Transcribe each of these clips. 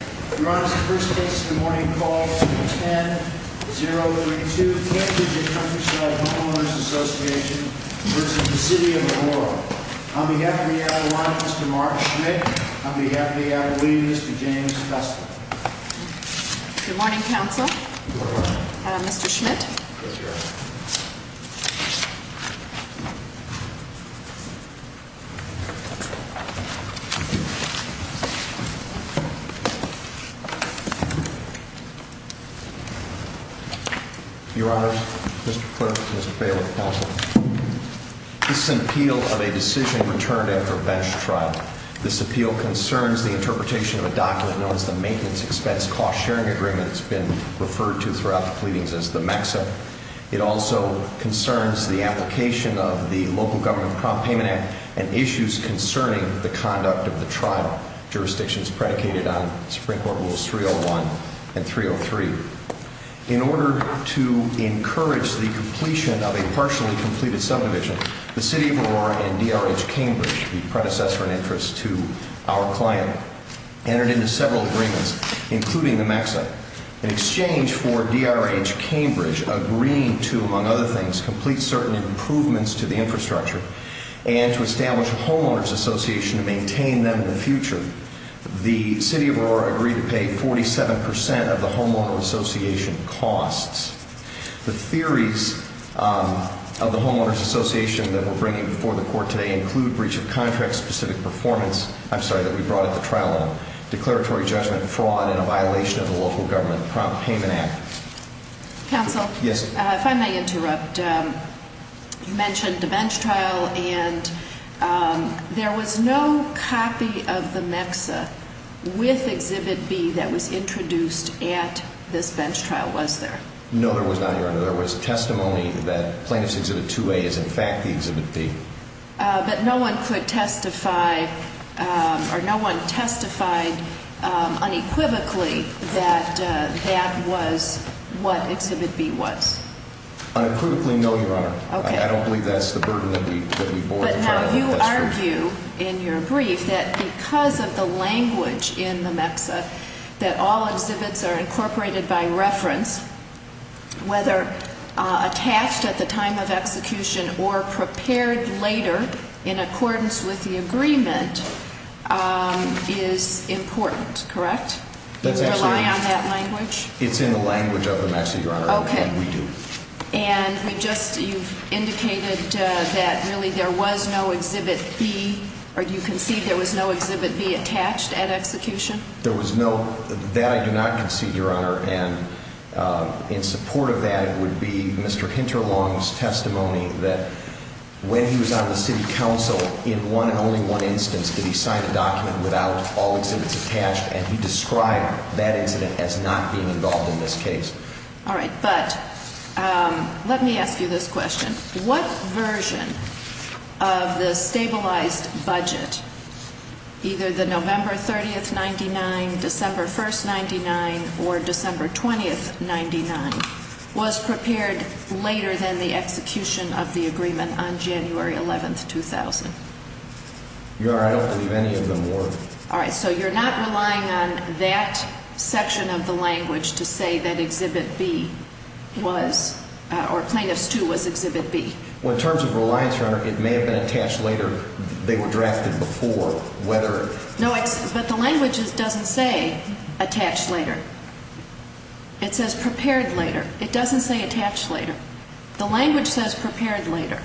Your Honour, the first case of the morning is called 10-032, Cambridge and Countryside Homeowners Association v. City of Aurora. On behalf of the Adelaide, Mr. Mark Schmidt. On behalf of the Adelaide, Mr. James Fessler. Good morning, Counsel. Mr. Schmidt. Your Honour, Mr. Clerk, Mr. Bailiff, Counsel. This is an appeal of a decision returned after a bench trial. This appeal concerns the interpretation of a document known as the Maintenance Expense Cost Sharing Agreement. It's been referred to throughout the pleadings as the MECSA. It also concerns the application of the Local Government Prompt Payment Act and issues concerning the conduct of the trial. Jurisdictions predicated on Supreme Court Rules 301 and 303. In order to encourage the completion of a partially completed subdivision, the City of Aurora and DRH Cambridge, the predecessor in interest to our client, entered into several agreements, including the MECSA. In exchange for DRH Cambridge agreeing to, among other things, complete certain improvements to the infrastructure and to establish a homeowner's association to maintain them in the future, the City of Aurora agreed to pay 47% of the homeowner association costs. The theories of the homeowner's association that we're bringing before the Court today include breach of contract specific performance, I'm sorry, that we brought at the trial, declaratory judgment, fraud, and a violation of the Local Government Prompt Payment Act. Counsel? Yes. If I may interrupt, you mentioned the bench trial and there was no copy of the MECSA with Exhibit B that was introduced at this bench trial, was there? No, there was not, Your Honor. There was testimony that Plaintiff's Exhibit 2A is in fact the Exhibit B. But no one could testify or no one testified unequivocally that that was what Exhibit B was? Unequivocally, no, Your Honor. Okay. I don't believe that's the burden that we bore at the trial. You argue in your brief that because of the language in the MECSA that all exhibits are incorporated by reference, whether attached at the time of execution or prepared later in accordance with the agreement, is important, correct? Do you rely on that language? It's in the language of the MECSA, Your Honor, and we do. And we just, you've indicated that really there was no Exhibit B, or do you concede there was no Exhibit B attached at execution? There was no, that I do not concede, Your Honor. And in support of that would be Mr. Hinterlong's testimony that when he was on the city council, in one and only one instance, did he sign a document without all exhibits attached, and he described that incident as not being involved in this case. All right. But let me ask you this question. What version of the stabilized budget, either the November 30th, 1999, December 1st, 1999, or December 20th, 1999, was prepared later than the execution of the agreement on January 11th, 2000? Your Honor, I don't believe any of them were. All right. So you're not relying on that section of the language to say that Exhibit B was, or Plaintiffs 2 was Exhibit B? Well, in terms of reliance, Your Honor, it may have been attached later. They were drafted before, whether. No, but the language doesn't say attached later. It says prepared later. It doesn't say attached later. The language says prepared later.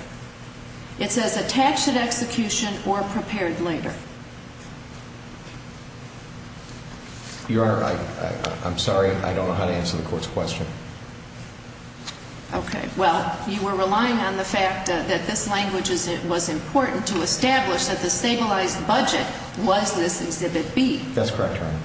It says attached at execution or prepared later. Your Honor, I'm sorry. I don't know how to answer the Court's question. Okay. Well, you were relying on the fact that this language was important to establish that the stabilized budget was this Exhibit B. That's correct, Your Honor.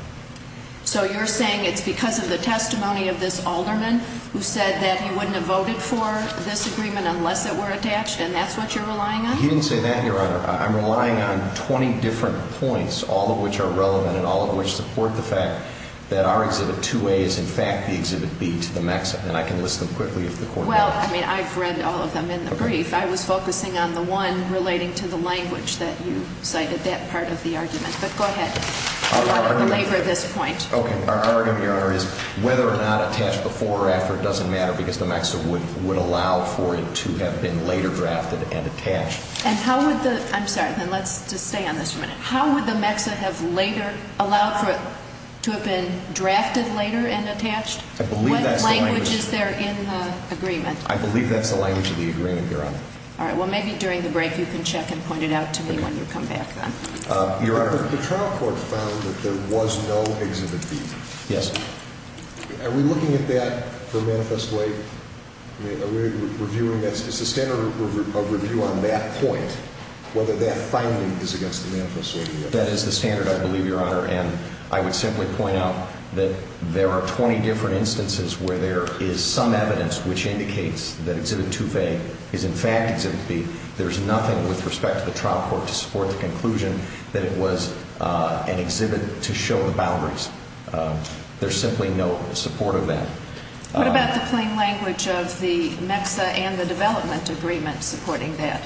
So you're saying it's because of the testimony of this alderman who said that he wouldn't have voted for this agreement unless it were attached, and that's what you're relying on? He didn't say that, Your Honor. I'm relying on 20 different points, all of which are relevant and all of which support the fact that our Exhibit 2A is, in fact, the Exhibit B to the maximum. And I can list them quickly if the Court wants. Well, I mean, I've read all of them in the brief. I was focusing on the one relating to the language that you cited, that part of the argument. But go ahead. I want to belabor this point. Okay. Our argument, Your Honor, is whether or not attached before or after doesn't matter because the MEXA would allow for it to have been later drafted and attached. And how would the – I'm sorry. Then let's just stay on this for a minute. How would the MEXA have later allowed for it to have been drafted later and attached? I believe that's the language. What language is there in the agreement? I believe that's the language of the agreement, Your Honor. All right. Well, maybe during the break you can check and point it out to me when you come back then. Your Honor. The trial court found that there was no Exhibit B. Yes. Are we looking at that for Manifest Laid? Are we reviewing that? Is the standard of review on that point whether that finding is against the Manifest Laid or not? That is the standard, I believe, Your Honor. And I would simply point out that there are 20 different instances where there is some evidence which indicates that Exhibit 2A is in fact Exhibit B. There's nothing with respect to the trial court to support the conclusion that it was an exhibit to show the boundaries. There's simply no support of that. What about the plain language of the MEXA and the development agreement supporting that?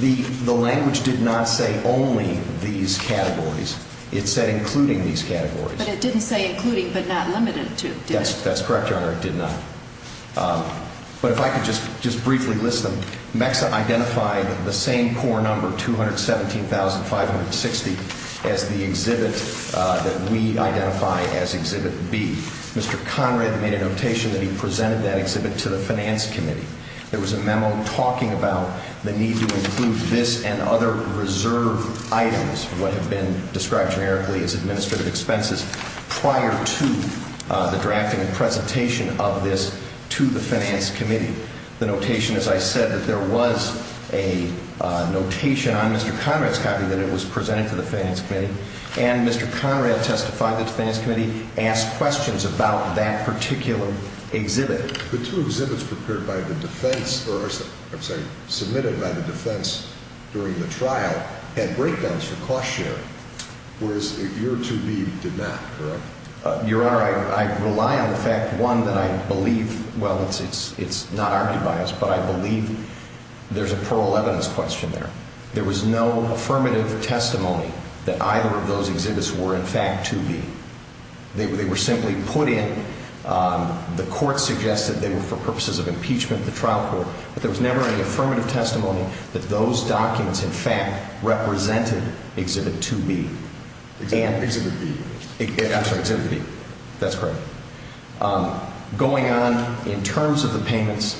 The language did not say only these categories. It said including these categories. But it didn't say including but not limited to, did it? That's correct, Your Honor. It did not. But if I could just briefly list them. MEXA identified the same core number, 217,560, as the exhibit that we identify as Exhibit B. Mr. Conrad made a notation that he presented that exhibit to the Finance Committee. There was a memo talking about the need to include this and other reserve items, what have been described generically as administrative expenses, prior to the drafting and presentation of this to the Finance Committee. The notation, as I said, that there was a notation on Mr. Conrad's copy that it was presented to the Finance Committee. And Mr. Conrad testified that the Finance Committee asked questions about that particular exhibit. The two exhibits prepared by the defense, or I'm sorry, submitted by the defense during the trial, had breakdowns for cost sharing, whereas your 2B did not, correct? Your Honor, I rely on the fact, one, that I believe, well, it's not argued by us, but I believe there's a plural evidence question there. There was no affirmative testimony that either of those exhibits were in fact 2B. They were simply put in. The court suggested they were for purposes of impeachment, the trial court. But there was never any affirmative testimony that those documents, in fact, represented Exhibit 2B. And- Exhibit B. I'm sorry, Exhibit B. That's correct. Going on, in terms of the payments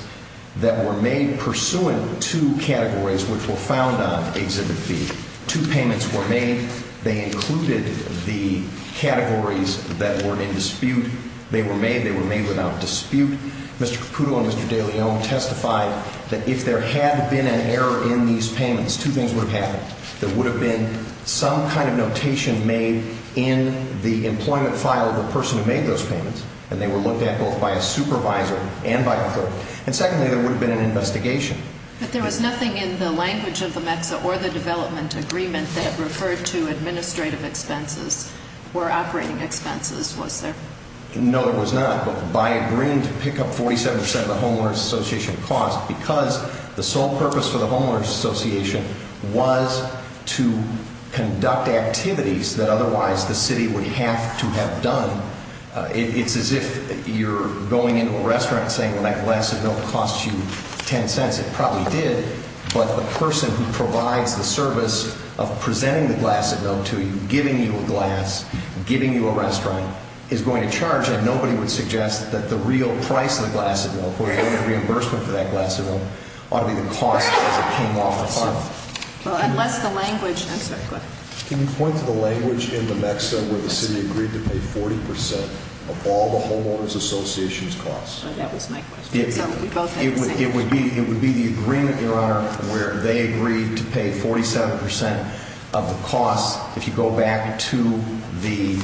that were made pursuant to categories which were found on Exhibit B, two payments were made. They included the categories that were in dispute. They were made. They were made without dispute. Mr. Caputo and Mr. de León testified that if there had been an error in these payments, two things would have happened. There would have been some kind of notation made in the employment file of the person who made those payments, and they were looked at both by a supervisor and by a clerk. And secondly, there would have been an investigation. But there was nothing in the language of the MEXA or the development agreement that referred to administrative expenses or operating expenses, was there? No, there was not. But by agreeing to pick up 47 percent of the Homeowners Association cost, because the sole purpose for the Homeowners Association was to conduct activities that otherwise the city would have to have done. It's as if you're going into a restaurant and saying, well, that glass of milk costs you 10 cents. It probably did. But the person who provides the service of presenting the glass of milk to you, giving you a glass, giving you a restaurant, is going to charge. And nobody would suggest that the real price of the glass of milk or the reimbursement for that glass of milk ought to be the cost as it came off the farm. Well, unless the language – I'm sorry, go ahead. Can you point to the language in the MEXA where the city agreed to pay 40 percent of all the Homeowners Association's costs? That was my question. It would be the agreement, Your Honor, where they agreed to pay 47 percent of the costs. If you go back to the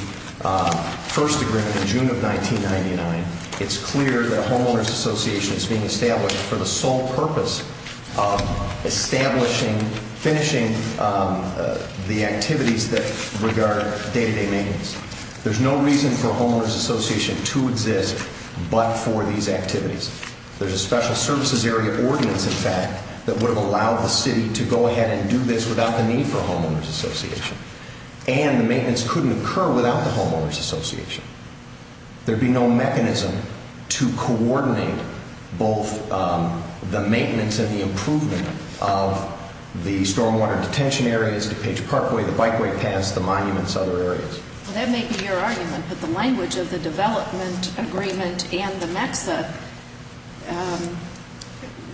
first agreement in June of 1999, it's clear that a Homeowners Association is being established for the sole purpose of establishing, finishing the activities that regard day-to-day maintenance. There's no reason for a Homeowners Association to exist but for these activities. There's a special services area ordinance, in fact, that would have allowed the city to go ahead and do this without the need for a Homeowners Association. And the maintenance couldn't occur without the Homeowners Association. There'd be no mechanism to coordinate both the maintenance and the improvement of the stormwater detention areas, the Page Parkway, the bikeway paths, the monuments, other areas. Well, that may be your argument, but the language of the development agreement and the MEXA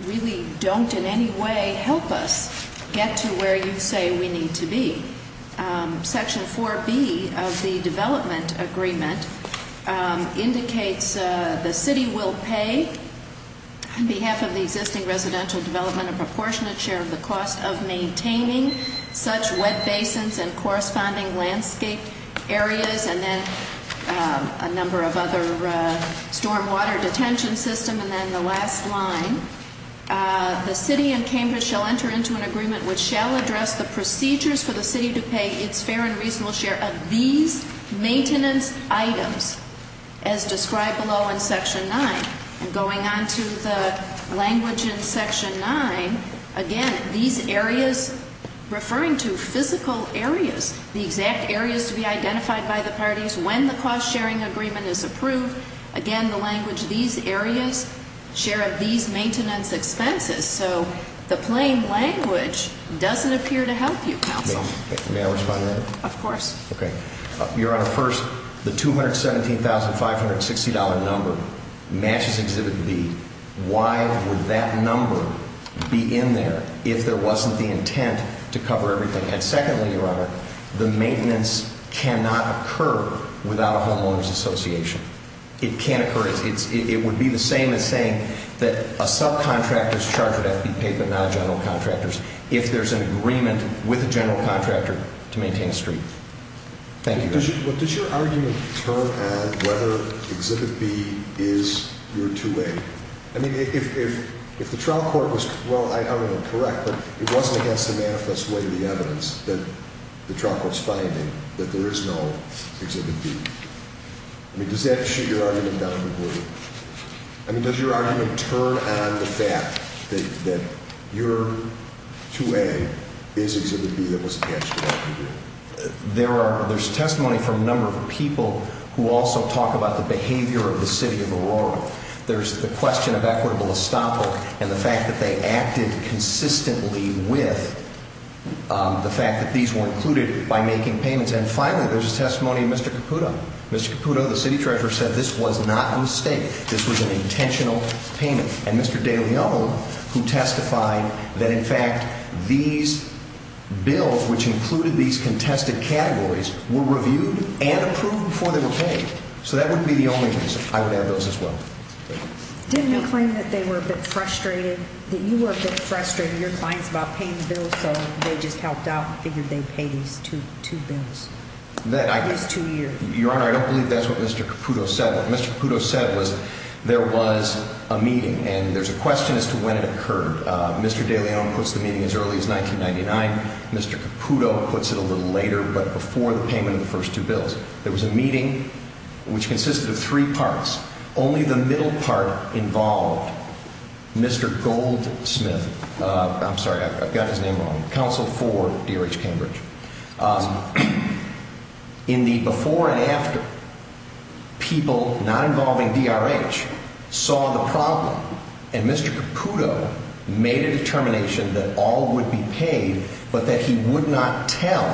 really don't in any way help us get to where you say we need to be. Section 4B of the development agreement indicates the city will pay, on behalf of the existing residential development, a proportionate share of the cost of maintaining such wet basins and corresponding landscape areas and then a number of other stormwater detention systems. And then the last line, the city and Cambridge shall enter into an agreement which shall address the procedures for the city to pay its fair and reasonable share of these maintenance items as described below in Section 9. And going on to the language in Section 9, again, these areas, referring to physical areas, the exact areas to be identified by the parties when the cost sharing agreement is approved. Again, the language, these areas share of these maintenance expenses. So the plain language doesn't appear to help you, counsel. May I respond to that? Of course. Your Honor, first, the $217,560 number matches Exhibit B. Why would that number be in there if there wasn't the intent to cover everything? And secondly, Your Honor, the maintenance cannot occur without a homeowner's association. It can't occur. It would be the same as saying that a subcontractor's charge would have to be paid but not a general contractor's if there's an agreement with a general contractor to maintain a street. Thank you, Your Honor. Does your argument turn at whether Exhibit B is your 2A? I mean, if the trial court was, well, I don't know, correct, but it wasn't against the manifest way of the evidence that the trial court's finding that there is no Exhibit B. I mean, does that shoot your argument down a little bit? I mean, does your argument turn on the fact that your 2A is Exhibit B that wasn't actually on the agreement? There's testimony from a number of people who also talk about the behavior of the City of Aurora. There's the question of equitable estoppel and the fact that they acted consistently with the fact that these were included by making payments. And finally, there's a testimony of Mr. Caputo. Mr. Caputo, the City Treasurer, said this was not a mistake. This was an intentional payment. And Mr. De Leon, who testified that, in fact, these bills, which included these contested categories, were reviewed and approved before they were paid. So that would be the only reason. I would add those as well. Didn't you claim that they were a bit frustrated, that you were a bit frustrated, your clients, about paying the bills, so they just helped out and figured they'd pay these two bills? These two years. Your Honor, I don't believe that's what Mr. Caputo said. What Mr. Caputo said was there was a meeting, and there's a question as to when it occurred. Mr. De Leon puts the meeting as early as 1999. Mr. Caputo puts it a little later, but before the payment of the first two bills. There was a meeting which consisted of three parts. Only the middle part involved Mr. Goldsmith. I'm sorry. I've got his name wrong. Counsel for DRH Cambridge. In the before and after, people not involving DRH saw the problem, and Mr. Caputo made a determination that all would be paid, but that he would not tell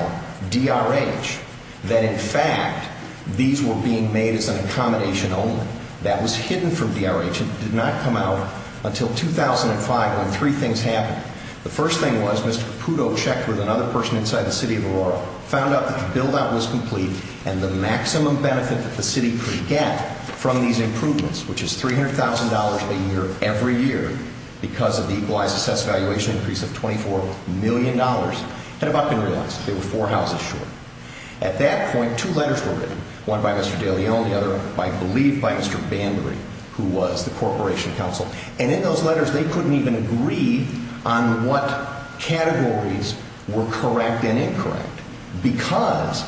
DRH that, in fact, these were being made as an accommodation only. That was hidden from DRH. It did not come out until 2005, when three things happened. The first thing was Mr. Caputo checked with another person inside the city of Aurora, found out that the build-out was complete, and the maximum benefit that the city could get from these improvements, which is $300,000 a year every year because of the equalized assessed valuation increase of $24 million, had about been realized. They were four houses short. At that point, two letters were written, one by Mr. De Leon, the other, I believe, by Mr. Banbury, who was the Corporation Counsel. And in those letters, they couldn't even agree on what categories were correct and incorrect because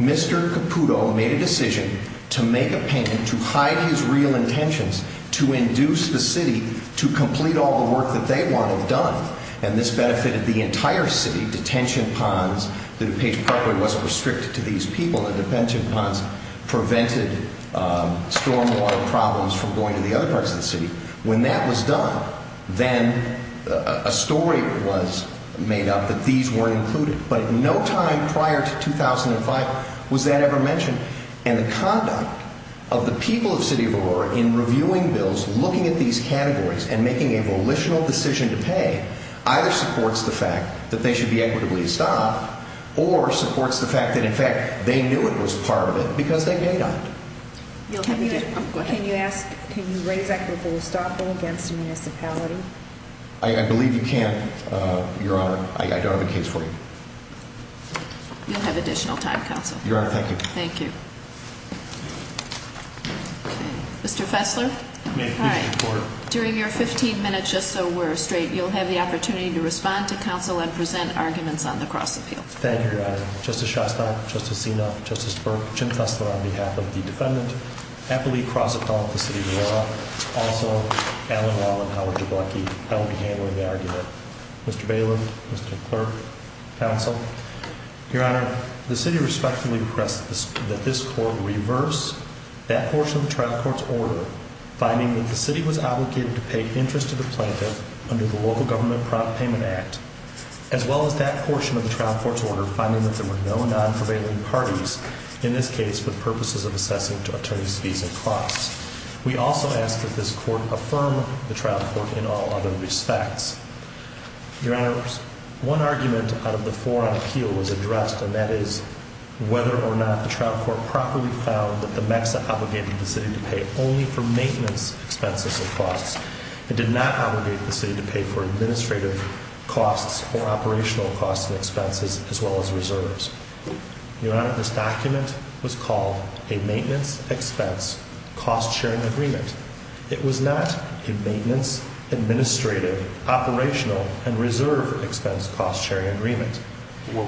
Mr. Caputo made a decision to make a payment to hide his real intentions, to induce the city to complete all the work that they wanted done. And this benefited the entire city. Detention ponds, the DuPage Parkway wasn't restricted to these people, and the detention ponds prevented stormwater problems from going to the other parts of the city. When that was done, then a story was made up that these weren't included. But at no time prior to 2005 was that ever mentioned. And the conduct of the people of City of Aurora in reviewing bills, looking at these categories, and making a volitional decision to pay either supports the fact that they should be equitably estopped or supports the fact that, in fact, they knew it was part of it because they paid on it. Can you raise equitable estoppel against a municipality? I believe you can, Your Honor. I don't have a case for you. You'll have additional time, Counsel. Your Honor, thank you. Thank you. Mr. Fessler? May I please report? During your 15 minutes, just so we're straight, you'll have the opportunity to respond to counsel and present arguments on the cross-appeal. Thank you, Your Honor. Justice Shostak, Justice Sinop, Justice Burke, Jim Fessler, on behalf of the defendant, happily cross-appeal with the City of Aurora. Also, Alan Wallen, Howard Jablecki, held to handle the argument. Mr. Bailiff, Mr. Clerk, Counsel. Your Honor, the city respectfully requests that this court reverse that portion of the trial court's order, finding that the city was obligated to pay interest to the plaintiff under the Local Government Prop Payment Act, as well as that portion of the trial court's order, finding that there were no non-prevailing parties, in this case, for the purposes of assessing to attorneys' fees and costs. We also ask that this court affirm the trial court in all other respects. Your Honor, one argument out of the four on appeal was addressed, and that is whether or not the trial court properly found that the MEXA obligated the city to pay only for maintenance expenses and costs. It did not obligate the city to pay for administrative costs or operational costs and expenses, as well as reserves. Your Honor, this document was called a maintenance expense cost-sharing agreement. It was not a maintenance, administrative, operational, and reserve expense cost-sharing agreement. But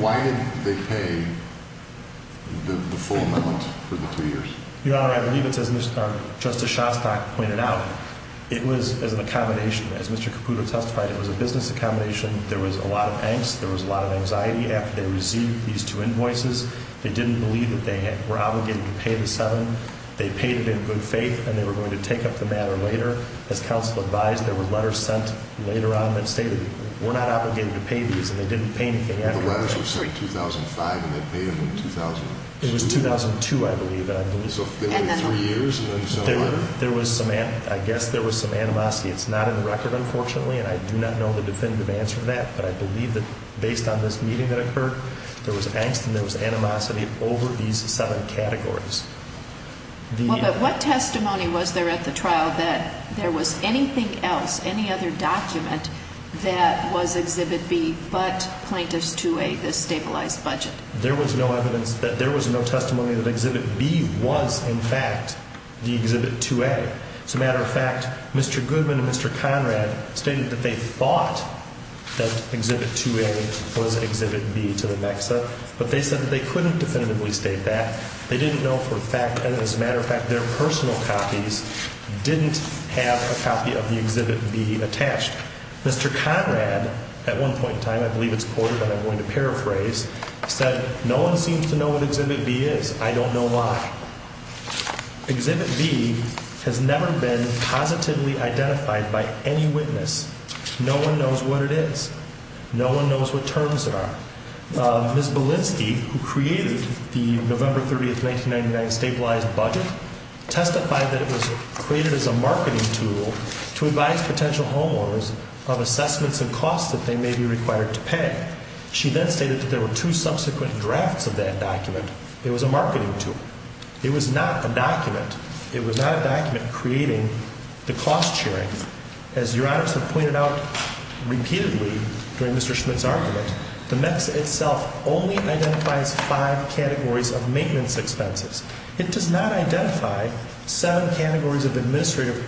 why did they pay the full amount for the two years? Your Honor, I believe it's as Justice Shostak pointed out. It was as an accommodation. As Mr. Caputo testified, it was a business accommodation. There was a lot of angst. There was a lot of anxiety after they received these two invoices. They didn't believe that they were obligated to pay the seven. They paid it in good faith, and they were going to take up the matter later. As counsel advised, there were letters sent later on that stated, we're not obligated to pay these, and they didn't pay anything after that. The letters were sent in 2005, and they paid them in 2002? It was 2002, I believe. So they waited three years, and then you sent a letter? I guess there was some animosity. It's not in the record, unfortunately, and I do not know the definitive answer to that. But I believe that based on this meeting that occurred, there was angst and there was animosity over these seven categories. What testimony was there at the trial that there was anything else, any other document that was Exhibit B but Plaintiff's 2A, the stabilized budget? There was no evidence that there was no testimony that Exhibit B was, in fact, the Exhibit 2A. As a matter of fact, Mr. Goodman and Mr. Conrad stated that they thought that Exhibit 2A was Exhibit B to the MEXA, but they said that they couldn't definitively state that. They didn't know for a fact, and as a matter of fact, their personal copies didn't have a copy of the Exhibit B attached. Mr. Conrad, at one point in time, I believe it's quoted and I'm going to paraphrase, said, No one seems to know what Exhibit B is. I don't know why. Exhibit B has never been positively identified by any witness. No one knows what it is. No one knows what terms there are. Ms. Belinsky, who created the November 30, 1999 stabilized budget, testified that it was created as a marketing tool to advise potential homeowners of assessments and costs that they may be required to pay. She then stated that there were two subsequent drafts of that document. It was a marketing tool. It was not a document. It was not a document creating the cost sharing. As Your Honors have pointed out repeatedly during Mr. Schmidt's argument, the MEXA itself only identifies five categories of maintenance expenses. It does not identify seven categories of administrative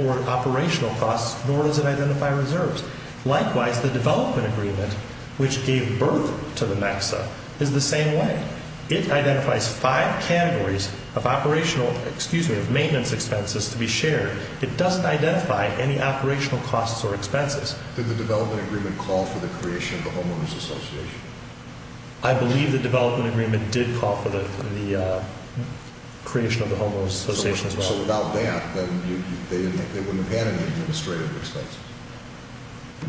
or operational costs, nor does it identify reserves. Likewise, the development agreement, which gave birth to the MEXA, is the same way. It identifies five categories of operational, excuse me, of maintenance expenses to be shared. It doesn't identify any operational costs or expenses. Did the development agreement call for the creation of the Homeowners Association? I believe the development agreement did call for the creation of the Homeowners Association as well. So without that, then they wouldn't have had an administrative expense.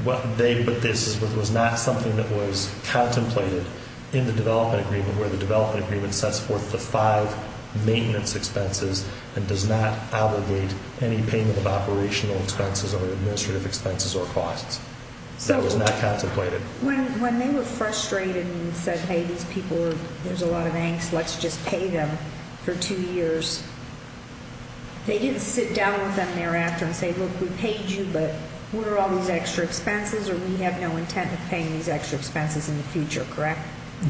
But this was not something that was contemplated in the development agreement, where the development agreement sets forth the five maintenance expenses and does not allegate any payment of operational expenses or administrative expenses or costs. That was not contemplated. When they were frustrated and said, hey, these people, there's a lot of angst, let's just pay them for two years, they didn't sit down with them thereafter and say, look, we paid you, but what are all these extra expenses or we have no intent of paying these extra expenses in the future, correct?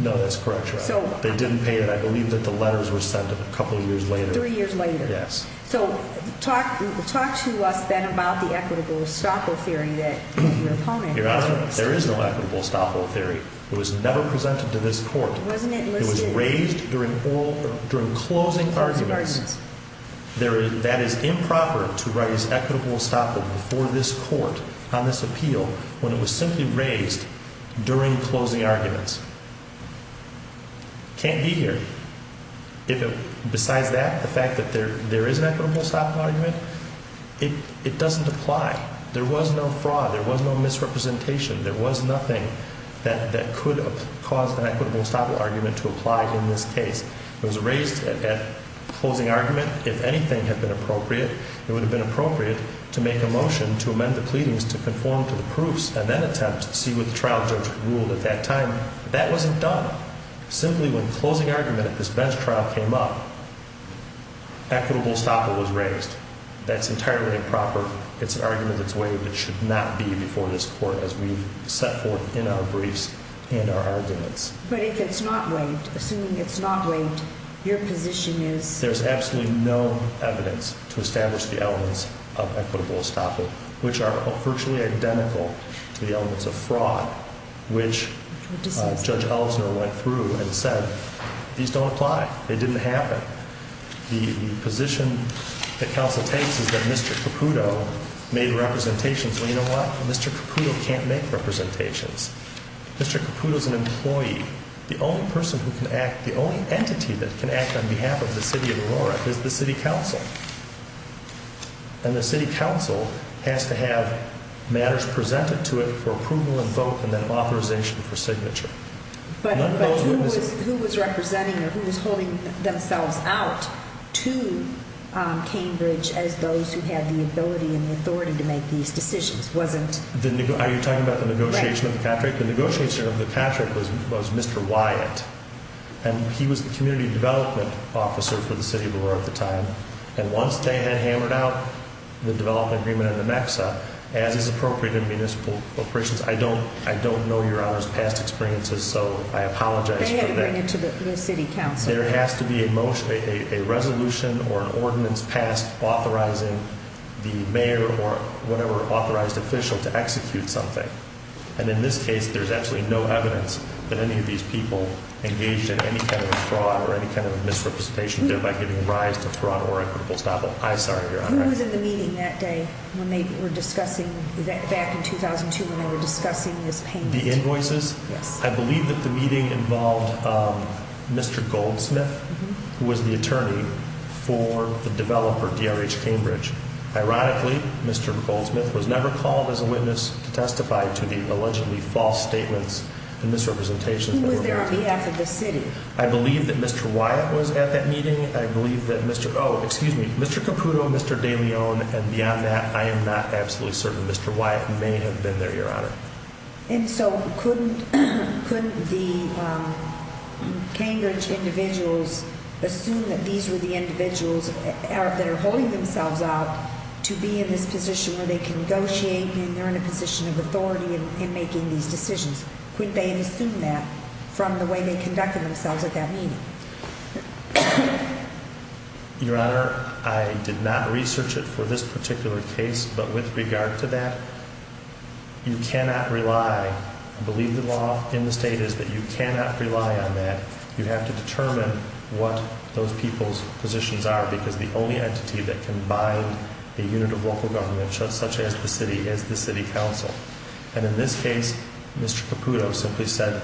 No, that's correct, Your Honor. They didn't pay it. I believe that the letters were sent a couple years later. Three years later. Yes. So talk to us then about the equitable estoppel theory that your opponent has raised. Your Honor, there is no equitable estoppel theory. It was never presented to this court. Wasn't it listed? It was raised during closing arguments. That is improper to raise equitable estoppel before this court on this appeal when it was simply raised during closing arguments. It can't be here. Besides that, the fact that there is an equitable estoppel argument, it doesn't apply. There was no fraud. There was no misrepresentation. There was nothing that could have caused an equitable estoppel argument to apply in this case. It was raised at closing argument. If anything had been appropriate, it would have been appropriate to make a motion to amend the pleadings to conform to the proofs and then attempt to see what the trial judge ruled at that time. That wasn't done. Simply when closing argument at this bench trial came up, equitable estoppel was raised. That's entirely improper. It's an argument that's waived. It should not be before this court as we've set forth in our briefs and our arguments. But if it's not waived, assuming it's not waived, your position is? There's absolutely no evidence to establish the elements of equitable estoppel, which are virtually identical to the elements of fraud, which Judge Ellsner went through and said, these don't apply. It didn't happen. The position that counsel takes is that Mr. Caputo made representations. Well, you know what? Mr. Caputo can't make representations. Mr. Caputo's an employee. The only person who can act, the only entity that can act on behalf of the city of Aurora is the city council. And the city council has to have matters presented to it for approval and vote and then authorization for signature. But who was representing or who was holding themselves out to Cambridge as those who had the ability and the authority to make these decisions? The negotiator of the Patrick was Mr. Wyatt. And he was the community development officer for the city of Aurora at the time. And once they had hammered out the development agreement in the MEXA, as is appropriate in municipal operations, I don't know Your Honor's past experiences, so I apologize for that. They had to bring it to the city council. There has to be a resolution or an ordinance passed authorizing the mayor or whatever authorized official to execute something. And in this case, there's absolutely no evidence that any of these people engaged in any kind of a fraud or any kind of a misrepresentation, thereby giving rise to fraud or equitable stoppage. I'm sorry, Your Honor. Who was in the meeting that day when they were discussing, back in 2002 when they were discussing this payment? The invoices? Yes. I believe that the meeting involved Mr. Goldsmith, who was the attorney for the developer, DRH Cambridge. Ironically, Mr. Goldsmith was never called as a witness to testify to the allegedly false statements and misrepresentations. Who was there on behalf of the city? I believe that Mr. Wyatt was at that meeting. I believe that Mr. Caputo, Mr. DeLeon, and beyond that, I am not absolutely certain. Mr. Wyatt may have been there, Your Honor. And so couldn't the Cambridge individuals assume that these were the individuals that are holding themselves out to be in this position where they can negotiate and they're in a position of authority in making these decisions? Couldn't they assume that from the way they conducted themselves at that meeting? Your Honor, I did not research it for this particular case, but with regard to that, you cannot rely, I believe the law in the state is that you cannot rely on that. You have to determine what those people's positions are because the only entity that can bind a unit of local government, such as the city, is the city council. And in this case, Mr. Caputo simply said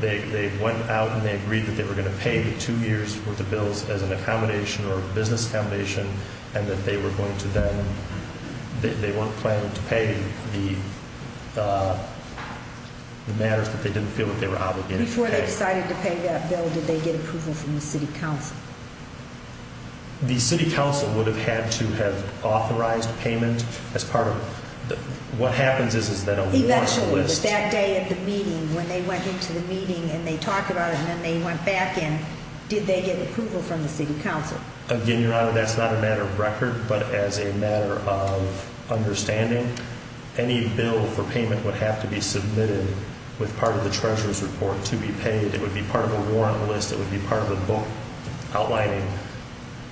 they went out and they agreed that they were going to pay the two years worth of bills as an accommodation or business accommodation and that they were going to then, they weren't planning to pay the matters that they didn't feel that they were obligated to pay. Before they decided to pay that bill, did they get approval from the city council? The city council would have had to have authorized payment as part of what happens is that a warrant list. Eventually, but that day at the meeting, when they went into the meeting and they talked about it and then they went back in, did they get approval from the city council? Again, Your Honor, that's not a matter of record, but as a matter of understanding. Any bill for payment would have to be submitted with part of the treasurer's report to be paid. It would be part of a warrant list. It would be part of a book outlining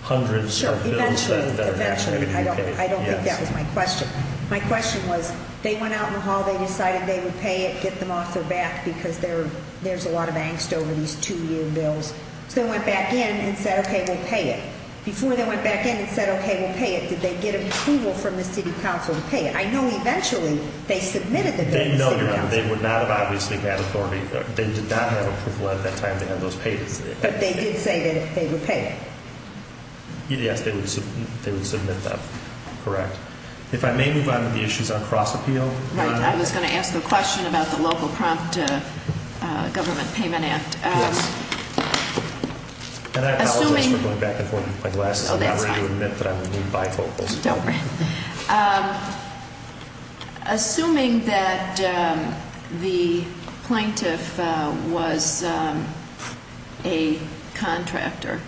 hundreds of bills that are actually going to be paid. I don't think that was my question. My question was they went out in the hall, they decided they would pay it, get them off their back because there's a lot of angst over these two year bills. So they went back in and said, okay, we'll pay it. Before they went back in and said, okay, we'll pay it. Did they get approval from the city council to pay it? I know eventually they submitted the bill to the city council. No, Your Honor. They would not have obviously had authority. They did not have approval at that time to have those payments. But they did say that they would pay it. Yes, they would submit that. Correct. If I may move on to the issues on cross appeal. Right. I was going to ask a question about the local prompt government payment act. Yes. And I apologize for going back and forth with my glasses. Oh, that's fine. I'm going to admit that I'm a new bifocal. Don't worry. Assuming that the plaintiff was a contractor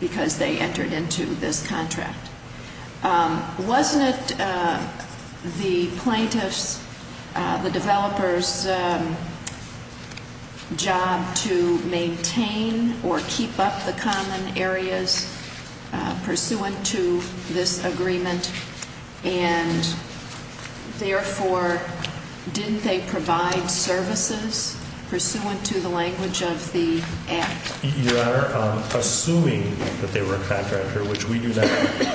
because they entered into this contract, Wasn't it the plaintiff's, the developer's job to maintain or keep up the common areas pursuant to this agreement? And therefore, didn't they provide services pursuant to the language of the act? Your Honor, assuming that they were a contractor, which we do not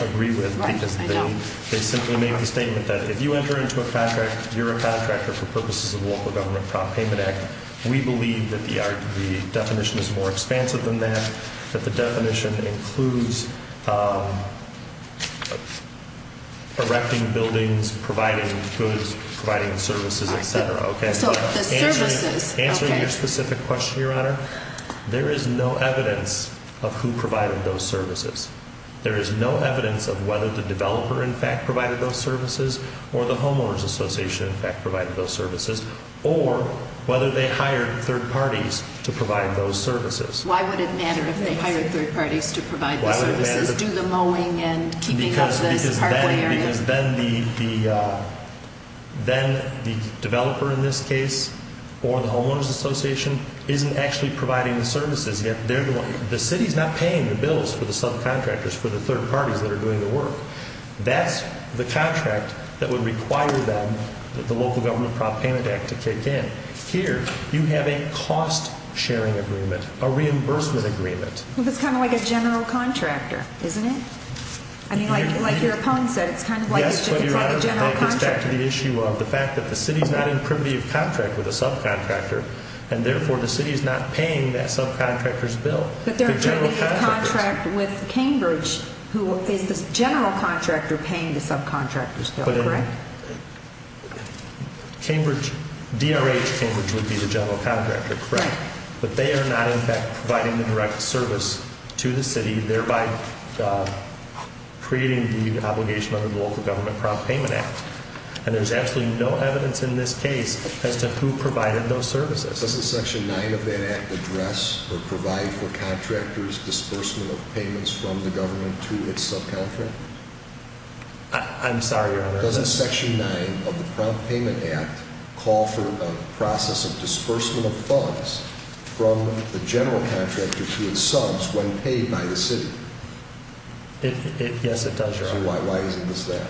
agree with because they simply made the statement that if you enter into a contract, you're a contractor for purposes of local government prompt payment act, we believe that the definition is more expansive than that, that the definition includes erecting buildings, providing goods, providing services, et cetera. So the services. Answering your specific question, Your Honor, there is no evidence of who provided those services. There is no evidence of whether the developer in fact provided those services or the homeowners association in fact provided those services or whether they hired third parties to provide those services. Why would it matter if they hired third parties to provide those services? Do the mowing and keeping up the common areas? Because then the developer in this case or the homeowners association isn't actually providing the services. The city's not paying the bills for the subcontractors for the third parties that are doing the work. That's the contract that would require them, the local government prompt payment act, to kick in. Here you have a cost sharing agreement, a reimbursement agreement. It's kind of like a general contractor, isn't it? I mean, like your opponent said, it's kind of like a general contractor. Yes, but Your Honor, that gets back to the issue of the fact that the city's not in privity of contract with a subcontractor and therefore the city is not paying that subcontractor's bill. But they're in privity of contract with Cambridge, who is the general contractor paying the subcontractor's bill, correct? DRH Cambridge would be the general contractor, correct. But they are not in fact providing the direct service to the city, thereby creating the obligation under the local government prompt payment act. And there's absolutely no evidence in this case as to who provided those services. Doesn't section 9 of that act address or provide for contractors' disbursement of payments from the government to its subcontractor? I'm sorry, Your Honor. Doesn't section 9 of the prompt payment act call for a process of disbursement of funds from the general contractor to its subs when paid by the city? Yes, it does, Your Honor. So why isn't this that?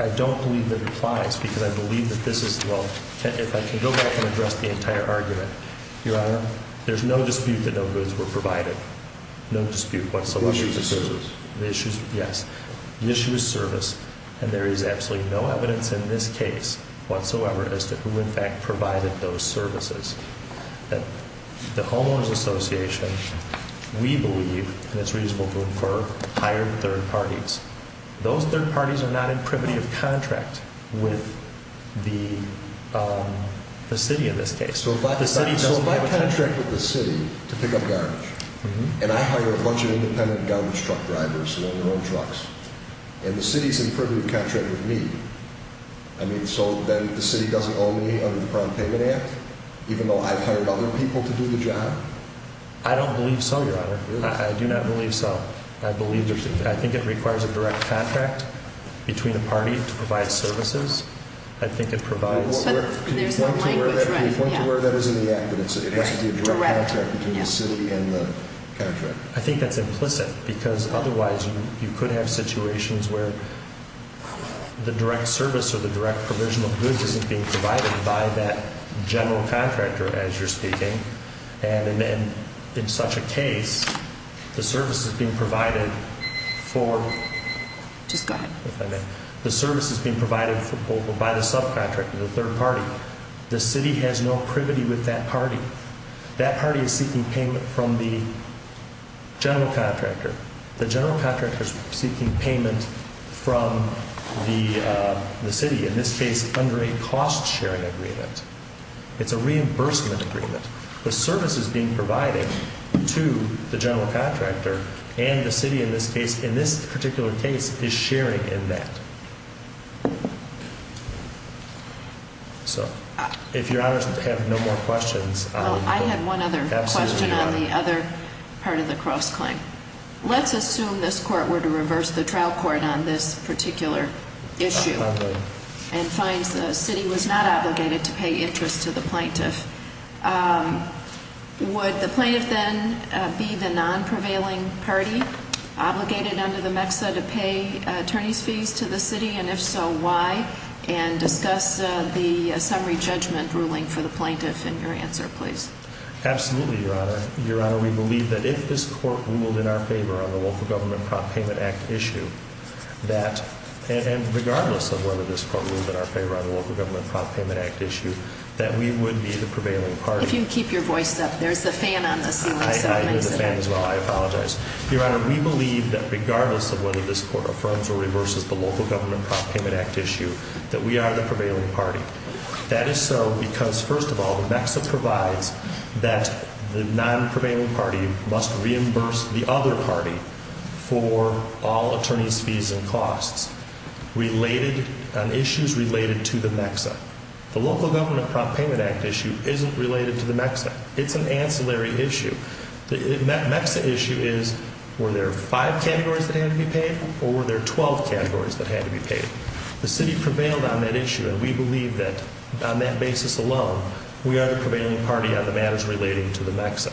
I don't believe that it applies because I believe that this is, well, if I can go back and address the entire argument. Your Honor, there's no dispute that no goods were provided. No dispute whatsoever. The issue is service. And there is absolutely no evidence in this case whatsoever as to who in fact provided those services. The Homeowners Association, we believe, and it's reasonable to infer, hired third parties. Those third parties are not in privity of contract with the city in this case. So if I contract with the city to pick up garbage, and I hire a bunch of independent garbage truck drivers who own their own trucks, and the city is in privity of contract with me, I mean, so then the city doesn't owe me under the prompt payment act, even though I've hired other people to do the job? I don't believe so, Your Honor. I do not believe so. I believe there's a, I think it requires a direct contract between a party to provide services. I think it provides. There's a language right here. Can you point to where that is in the act, that it must be a direct contract between the city and the contractor? I think that's implicit because otherwise you could have situations where the direct service or the direct provision of goods isn't being provided by that general contractor, as you're speaking. And in such a case, the service is being provided for... Just go ahead. If I may. The service is being provided by the subcontractor, the third party. The city has no privity with that party. That party is seeking payment from the general contractor. The general contractor is seeking payment from the city, in this case under a cost-sharing agreement. It's a reimbursement agreement. The service is being provided to the general contractor, and the city in this case, in this particular case, is sharing in that. So, if Your Honors have no more questions. Well, I have one other question on the other part of the cross-claim. Let's assume this court were to reverse the trial court on this particular issue. And finds the city was not obligated to pay interest to the plaintiff. Would the plaintiff then be the non-prevailing party, obligated under the MEXA to pay attorney's fees to the city? And if so, why? And discuss the summary judgment ruling for the plaintiff in your answer, please. Absolutely, Your Honor. Your Honor, we believe that if this court ruled in our favor on the Local Government Prop Payment Act issue, that, and regardless of whether this court ruled in our favor on the Local Government Prop Payment Act issue, that we would be the prevailing party. If you keep your voice up, there's a fan on the ceiling. I hear the fan as well. I apologize. Your Honor, we believe that regardless of whether this court affirms or reverses the Local Government Prop Payment Act issue, that we are the prevailing party. That is so because, first of all, the MEXA provides that the non-prevailing party must reimburse the other party for all attorney's fees and costs on issues related to the MEXA. The Local Government Prop Payment Act issue isn't related to the MEXA. It's an ancillary issue. The MEXA issue is, were there five categories that had to be paid, or were there 12 categories that had to be paid? The city prevailed on that issue, and we believe that on that basis alone, we are the prevailing party on the matters relating to the MEXA.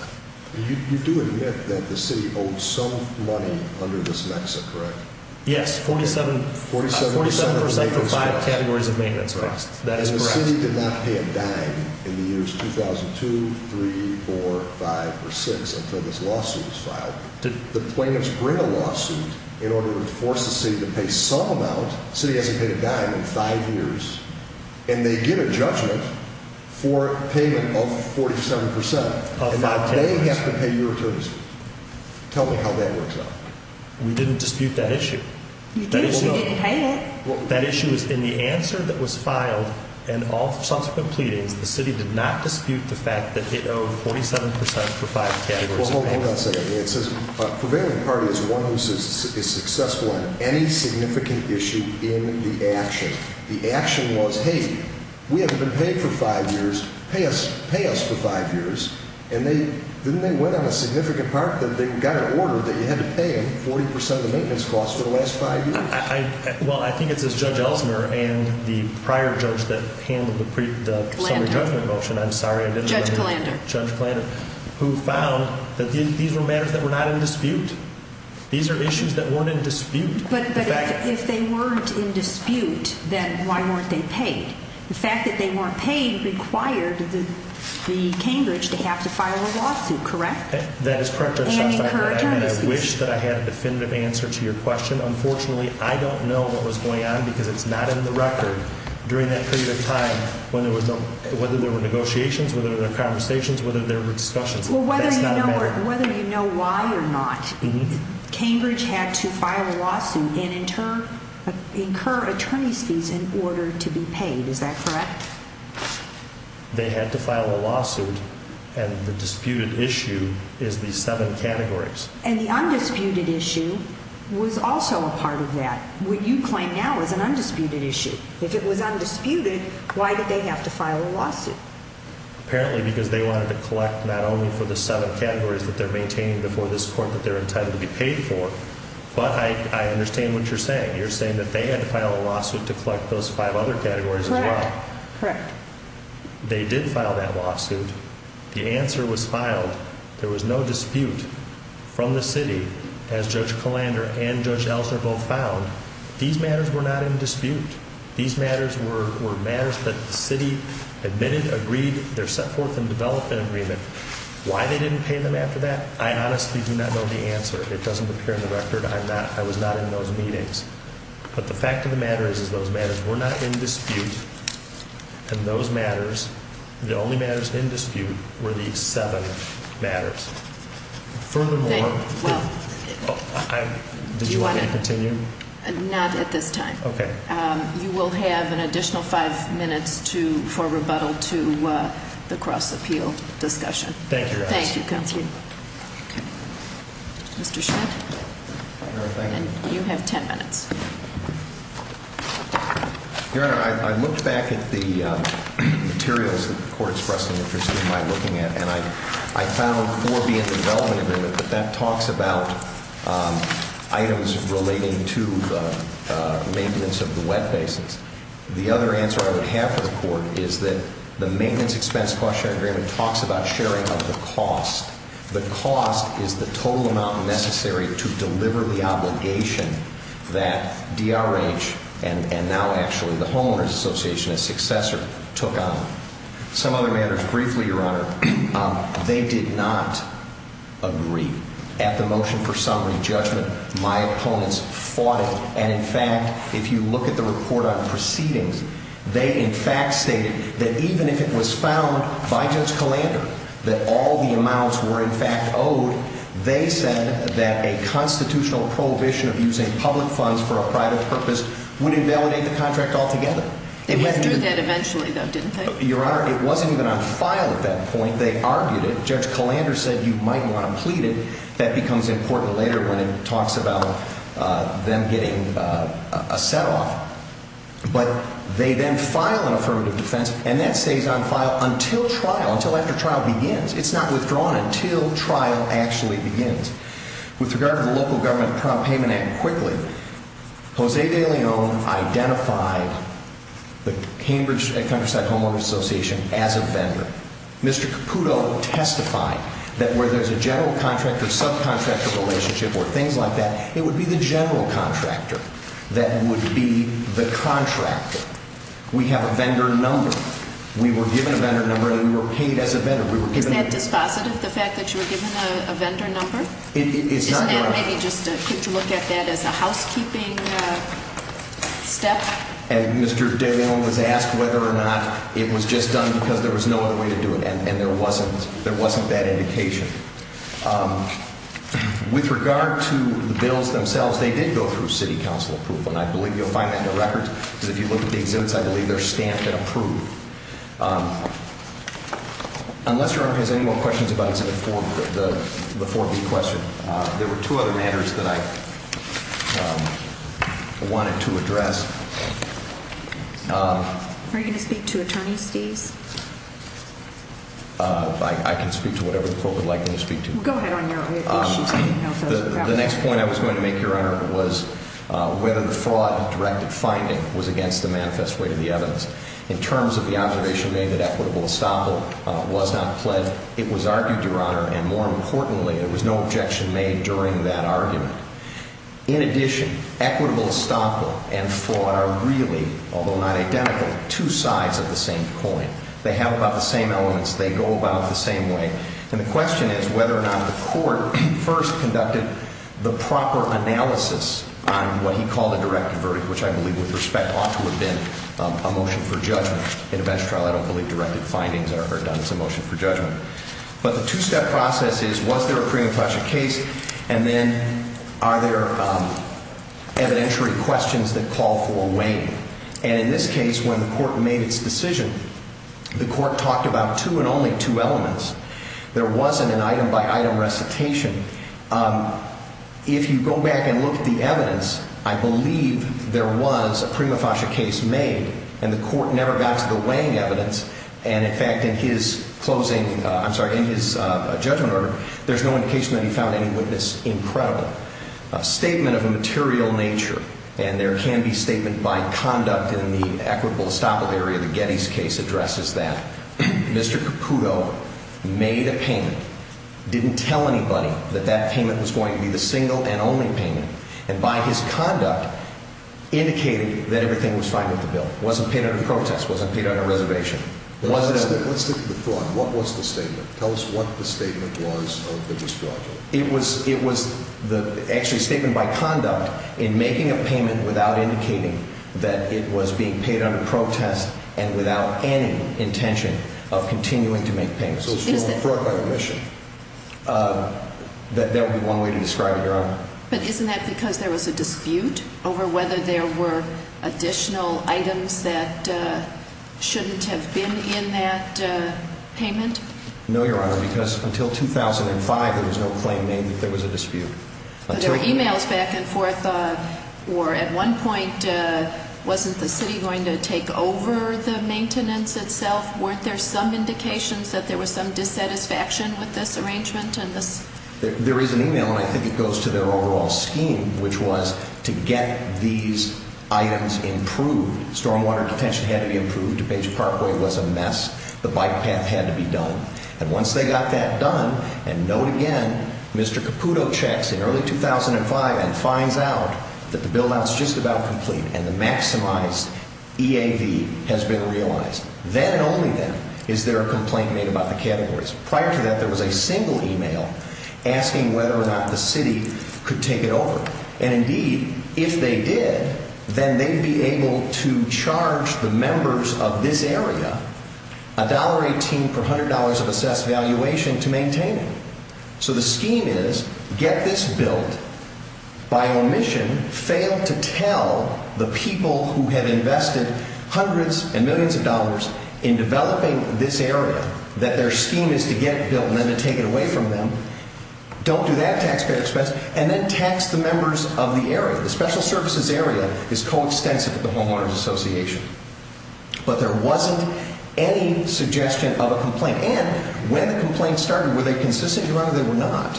You do admit that the city owed some money under this MEXA, correct? Yes, 47 percent for five categories of maintenance costs. That is correct. And the city did not pay a dime in the years 2002, 3, 4, 5, or 6 until this lawsuit was filed. Did the plaintiffs bring a lawsuit in order to force the city to pay some amount? The city hasn't paid a dime in five years, and they get a judgment for payment of 47 percent. Of five categories. And they have to pay your attorney's fees. Tell me how that works out. We didn't dispute that issue. You did. You didn't hide it. That issue is in the answer that was filed and all subsequent pleadings, the city did not dispute the fact that it owed 47 percent for five categories of maintenance. Hold on a second here. It says a prevailing party is one who is successful in any significant issue in the action. The action was, hey, we haven't been paid for five years, pay us for five years. And then they went on a significant part that they got an order that you had to pay them 40 percent of the maintenance costs for the last five years. Well, I think it says Judge Ellsmer and the prior judge that handled the summary judgment motion, I'm sorry, I didn't remember. Judge Kallander. Judge Kallander, who found that these were matters that were not in dispute. These are issues that weren't in dispute. But if they weren't in dispute, then why weren't they paid? The fact that they weren't paid required the Cambridge to have to file a lawsuit, correct? That is correct, Your Honor. And incur attorney's fees. I wish that I had a definitive answer to your question. Unfortunately, I don't know what was going on because it's not in the record during that period of time whether there were negotiations, whether there were conversations, whether there were discussions. That's not a matter. Whether you know why or not, Cambridge had to file a lawsuit and incur attorney's fees in order to be paid. Is that correct? They had to file a lawsuit, and the disputed issue is the seven categories. And the undisputed issue was also a part of that. What you claim now is an undisputed issue. If it was undisputed, why did they have to file a lawsuit? Apparently because they wanted to collect not only for the seven categories that they're maintaining before this court that they're entitled to be paid for, but I understand what you're saying. You're saying that they had to file a lawsuit to collect those five other categories as well. Correct, correct. They did file that lawsuit. The answer was filed. There was no dispute from the city, as Judge Kalander and Judge Ellsner both found. These matters were not in dispute. These matters were matters that the city admitted, agreed, they're set forth in development agreement. Why they didn't pay them after that, I honestly do not know the answer. It doesn't appear in the record. I was not in those meetings. But the fact of the matter is those matters were not in dispute, and those matters, the only matters in dispute were these seven matters. Furthermore, do you want me to continue? Not at this time. Okay. You will have an additional five minutes for rebuttal to the cross-appeal discussion. Thank you, Your Honor. Thank you, Counselor. Mr. Schmidt? Your Honor, thank you. You have ten minutes. Your Honor, I looked back at the materials that the Court expressed an interest in my looking at, and I found four be in development agreement, but that talks about items relating to the maintenance of the wet bases. The other answer I would have for the Court is that the maintenance expense cost sharing agreement talks about sharing of the cost. The cost is the total amount necessary to deliver the obligation that DRH and now actually the Homeowners Association, a successor, took on. Some other matters briefly, Your Honor, they did not agree. At the motion for summary judgment, my opponents fought it, and in fact, if you look at the report on proceedings, they in fact stated that even if it was found by Judge Kalander that all the amounts were in fact owed, they said that a constitutional prohibition of using public funds for a private purpose would invalidate the contract altogether. They withdrew that eventually, though, didn't they? Your Honor, it wasn't even on file at that point. They argued it. Judge Kalander said you might want to plead it. That becomes important later when it talks about them getting a set-off. But they then file an affirmative defense, and that stays on file until trial, until after trial begins. It's not withdrawn until trial actually begins. With regard to the Local Government Prompt Payment Act, quickly, Jose de Leon identified the Cambridge Countryside Homeowners Association as a vendor. Mr. Caputo testified that where there's a general contractor-subcontractor relationship or things like that, it would be the general contractor that would be the contractor. We have a vendor number. We were given a vendor number, and we were paid as a vendor. We were given a- Is that dispositive, the fact that you were given a vendor number? It's not- Isn't that maybe just a quick look at that as a housekeeping step? Mr. de Leon was asked whether or not it was just done because there was no other way to do it, and there wasn't that indication. With regard to the bills themselves, they did go through City Council approval, and I believe you'll find that in the records. If you look at the exhibits, I believe they're stamped and approved. Unless Your Honor has any more questions about Exhibit 4, the 4B question, there were two other matters that I wanted to address. Are you going to speak to attorneys, please? I can speak to whatever the Court would like me to speak to. Go ahead on your issues. The next point I was going to make, Your Honor, was whether the fraud-directed finding was against the manifest weight of the evidence. In terms of the observation made that equitable estoppel was not pledged, it was argued, Your Honor, and more importantly, there was no objection made during that argument. In addition, equitable estoppel and fraud are really, although not identical, two sides of the same coin. They have about the same elements. They go about it the same way. And the question is whether or not the Court first conducted the proper analysis on what he called a directed verdict, which I believe with respect ought to have been a motion for judgment. In a best trial, I don't believe directed findings are done. It's a motion for judgment. But the two-step process is was there a prima facie case, and then are there evidentiary questions that call for a weighing? And in this case, when the Court made its decision, the Court talked about two and only two elements. There wasn't an item-by-item recitation. If you go back and look at the evidence, I believe there was a prima facie case made, and the Court never got to the weighing evidence. And, in fact, in his closing, I'm sorry, in his judgment order, there's no indication that he found any witness incredible. A statement of a material nature, and there can be statement by conduct in the equitable estoppel area. The Getty's case addresses that. Mr. Caputo made a payment, didn't tell anybody that that payment was going to be the single and only payment, and by his conduct, indicated that everything was fine with the bill. It wasn't paid under protest. It wasn't paid under reservation. Let's stick to the fraud. What was the statement? Tell us what the statement was of the misconduct. It was actually a statement by conduct in making a payment without indicating that it was being paid under protest and without any intention of continuing to make payments. So it's fraud by omission. That would be one way to describe it, Your Honor. But isn't that because there was a dispute over whether there were additional items that shouldn't have been in that payment? No, Your Honor, because until 2005, there was no claim made that there was a dispute. But there were e-mails back and forth, or at one point, wasn't the city going to take over the maintenance itself? Weren't there some indications that there was some dissatisfaction with this arrangement? There is an e-mail, and I think it goes to their overall scheme, which was to get these items improved. Stormwater detention had to be improved. Depeche Parkway was a mess. The bike path had to be done. And once they got that done, and note again, Mr. Caputo checks in early 2005 and finds out that the build-out is just about complete and the maximized EAV has been realized. Then and only then is there a complaint made about the categories. Prior to that, there was a single e-mail asking whether or not the city could take it over. And indeed, if they did, then they'd be able to charge the members of this area $1.18 per $100 of assessed valuation to maintain it. So the scheme is, get this built. By omission, fail to tell the people who have invested hundreds and millions of dollars in developing this area that their scheme is to get it built and then to take it away from them. Don't do that taxpayer expense. And then tax the members of the area. The special services area is coextensive with the homeowners association. But there wasn't any suggestion of a complaint. And when the complaint started, were they consistent or were they not?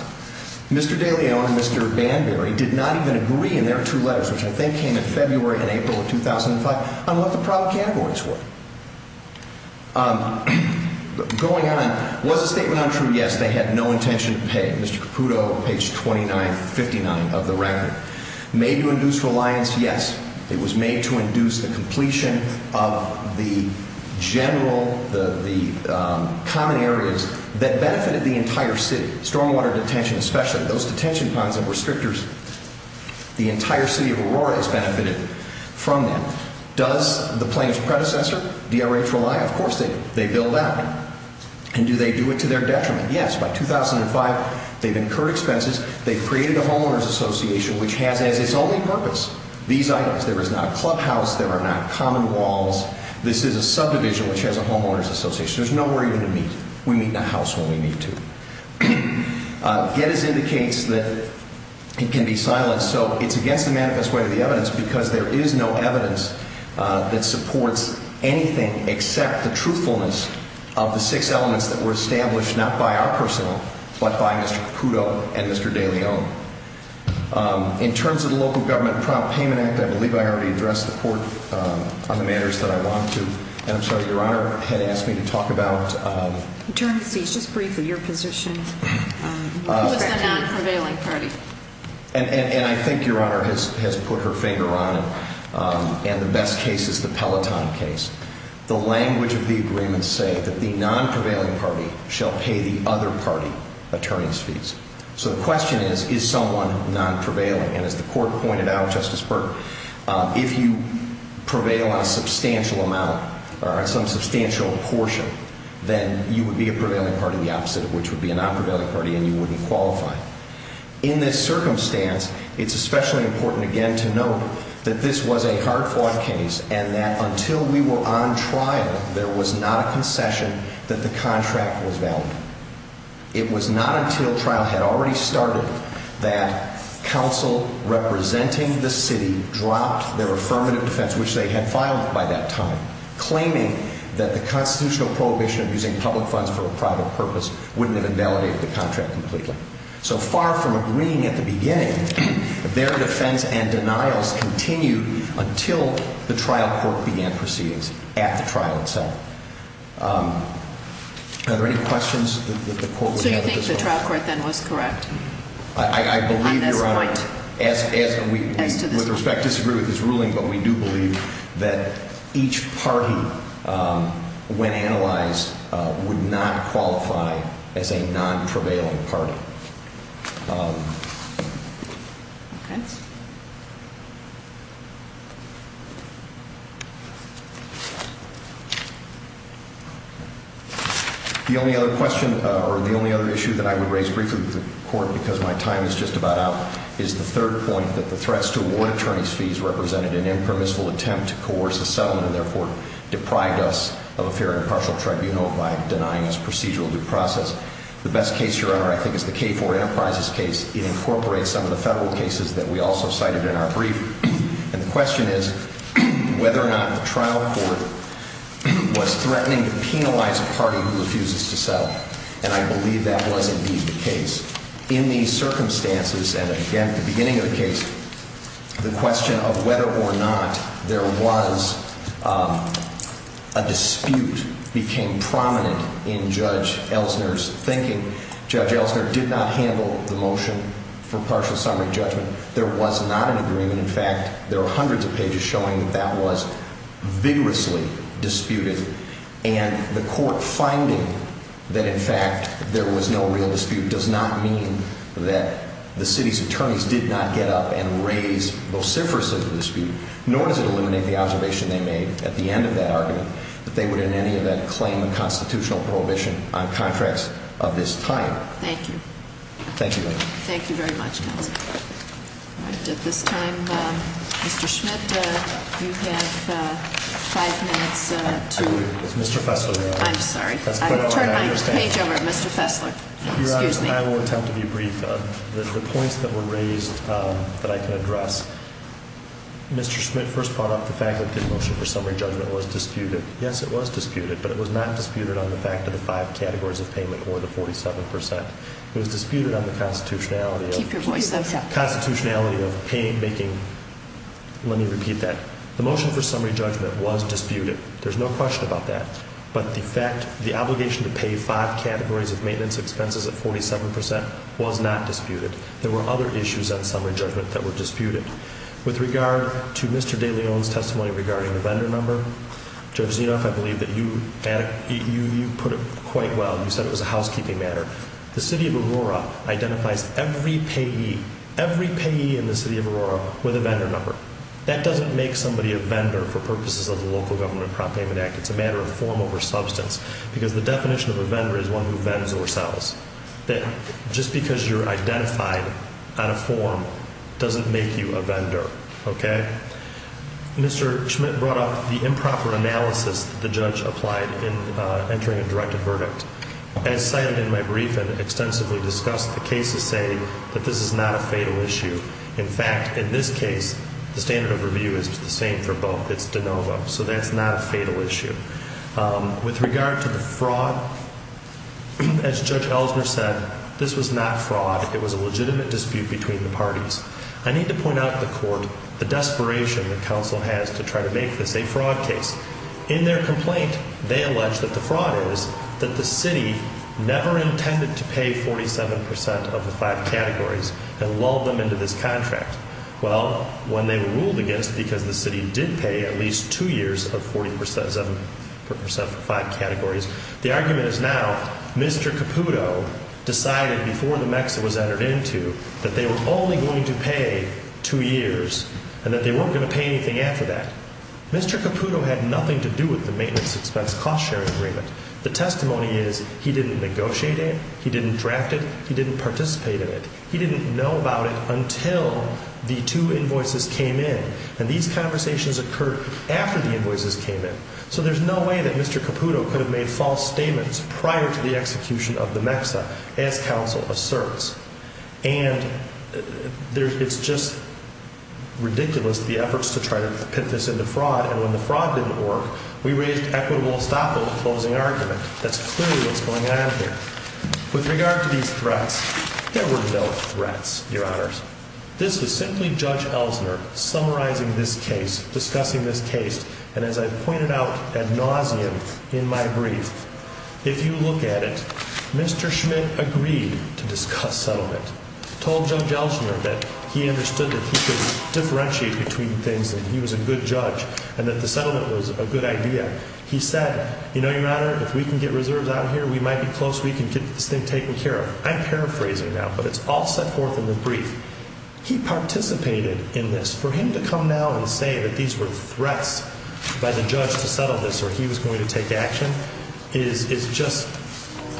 Mr. Daly and Mr. Banbury did not even agree in their two letters, which I think came in February and April of 2005, on what the problem categories were. Going on, was the statement untrue? Yes. They had no intention of paying. Mr. Caputo, page 2959 of the record. Made to induce reliance? Yes. It was made to induce the completion of the general, the common areas that benefited the entire city. Stormwater detention especially. Those detention ponds and restrictors, the entire city of Aurora has benefited from them. Does the plaintiff's predecessor, DRH, rely? Of course they do. They bill that. And do they do it to their detriment? Yes. By 2005, they've incurred expenses. They've created a homeowners association which has as its only purpose these items. There is not a clubhouse. There are not common walls. This is a subdivision which has a homeowners association. There's nowhere even to meet. We meet in a house when we need to. Gettys indicates that it can be silenced. So it's against the manifest way of the evidence because there is no evidence that supports anything except the truthfulness of the six elements that were established not by our personnel but by Mr. Caputo and Mr. De Leon. In terms of the local government prompt payment act, I believe I already addressed the court on the matters that I want to. And I'm sorry, Your Honor had asked me to talk about. Attorney, please just briefly your position. Who is the non-prevailing party? And I think Your Honor has put her finger on it. And the best case is the Peloton case. The language of the agreement says that the non-prevailing party shall pay the other party attorney's fees. So the question is, is someone non-prevailing? And as the court pointed out, Justice Berg, if you prevail on a substantial amount or on some substantial portion, then you would be a prevailing party, the opposite of which would be a non-prevailing party, and you wouldn't qualify. In this circumstance, it's especially important again to note that this was a hard-fought case and that until we were on trial, there was not a concession that the contract was valid. It was not until trial had already started that counsel representing the city dropped their affirmative defense, which they had filed by that time, claiming that the constitutional prohibition of using public funds for a private purpose wouldn't have invalidated the contract completely. So far from agreeing at the beginning, their defense and denials continued until the trial court began proceedings at the trial itself. Are there any questions that the court would have at this point? So you think the trial court then was correct on this point? I believe, Your Honor, as we with respect disagree with this ruling, but we do believe that each party, when analyzed, would not qualify as a non-prevailing party. Okay. The only other question, or the only other issue that I would raise briefly with the court, because my time is just about up, is the third point that the threats to award attorney's fees represented an impermissible attempt to coerce a settlement and therefore deprived us of a fair and impartial tribunal by denying us procedural due process. The best case, Your Honor, I think is the K4 Enterprises case. It incorporates some of the federal cases that we also cited in our brief. And the question is whether or not the trial court was threatening to penalize a party who refuses to settle. And I believe that was indeed the case. In these circumstances, and again, at the beginning of the case, the question of whether or not there was a dispute became prominent in Judge Ellsner's thinking. Judge Ellsner did not handle the motion for partial summary judgment. There was not an agreement. In fact, there are hundreds of pages showing that that was vigorously disputed. And the court finding that, in fact, there was no real dispute does not mean that the city's attorneys did not get up and raise vociferously the dispute. Nor does it eliminate the observation they made at the end of that argument that they would in any event claim constitutional prohibition on contracts of this type. Thank you. Thank you, Your Honor. Thank you very much, counsel. At this time, Mr. Schmidt, you have five minutes to- Is Mr. Fessler there? I'm sorry. I'll turn my page over to Mr. Fessler. Excuse me. Your Honor, I will attempt to be brief. The points that were raised that I can address. Mr. Schmidt first brought up the fact that the motion for summary judgment was disputed. Yes, it was disputed, but it was not disputed on the fact of the five categories of payment or the 47%. It was disputed on the constitutionality of- Keep your voice up. Constitutionality of making- Let me repeat that. The motion for summary judgment was disputed. There's no question about that, but the fact- The obligation to pay five categories of maintenance expenses at 47% was not disputed. There were other issues on summary judgment that were disputed. With regard to Mr. De Leon's testimony regarding the vendor number, Judge Zinoff, I believe that you put it quite well. You said it was a housekeeping matter. The City of Aurora identifies every payee, every payee in the City of Aurora with a vendor number. That doesn't make somebody a vendor for purposes of the Local Government Prop Payment Act. It's a matter of form over substance because the definition of a vendor is one who vends or sells. Just because you're identified on a form doesn't make you a vendor. Okay? Mr. Schmidt brought up the improper analysis that the judge applied in entering a directed verdict. As cited in my brief and extensively discussed, the cases say that this is not a fatal issue. In fact, in this case, the standard of review is the same for both. It's de novo. So that's not a fatal issue. With regard to the fraud, as Judge Ellsner said, this was not fraud. It was a legitimate dispute between the parties. I need to point out to the Court the desperation that counsel has to try to make this a fraud case. In their complaint, they allege that the fraud is that the City never intended to pay 47 percent of the five categories and lulled them into this contract. Well, when they were ruled against because the City did pay at least two years of 47 percent for five categories, the argument is now Mr. Caputo decided before the MEXA was entered into that they were only going to pay two years and that they weren't going to pay anything after that. Mr. Caputo had nothing to do with the maintenance expense cost-sharing agreement. The testimony is he didn't negotiate it, he didn't draft it, he didn't participate in it. He didn't know about it until the two invoices came in, and these conversations occurred after the invoices came in. So there's no way that Mr. Caputo could have made false statements prior to the execution of the MEXA, as counsel asserts. And it's just ridiculous the efforts to try to pit this into fraud, and when the fraud didn't work, we raised equitable estoppel in the closing argument. That's clearly what's going on here. With regard to these threats, there were no threats, Your Honors. This was simply Judge Elsner summarizing this case, discussing this case, and as I pointed out ad nauseum in my brief, if you look at it, Mr. Schmidt agreed to discuss settlement. He told Judge Elsner that he understood that he could differentiate between things, that he was a good judge, and that the settlement was a good idea. He said, you know, Your Honor, if we can get reserves out of here, we might be close, we can get this thing taken care of. I'm paraphrasing now, but it's all set forth in the brief. He participated in this. For him to come now and say that these were threats by the judge to settle this or he was going to take action, is just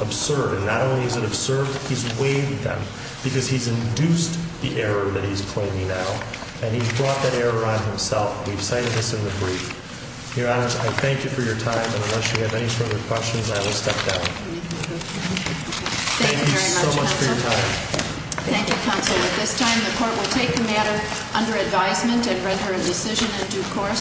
absurd, and not only is it absurd, he's waived them, because he's induced the error that he's claiming now, and he's brought that error on himself. We've cited this in the brief. Your Honors, I thank you for your time, and unless you have any further questions, I will step down. Thank you so much for your time. Thank you, Counsel. At this time, the Court will take the matter under advisement and render a decision in due course.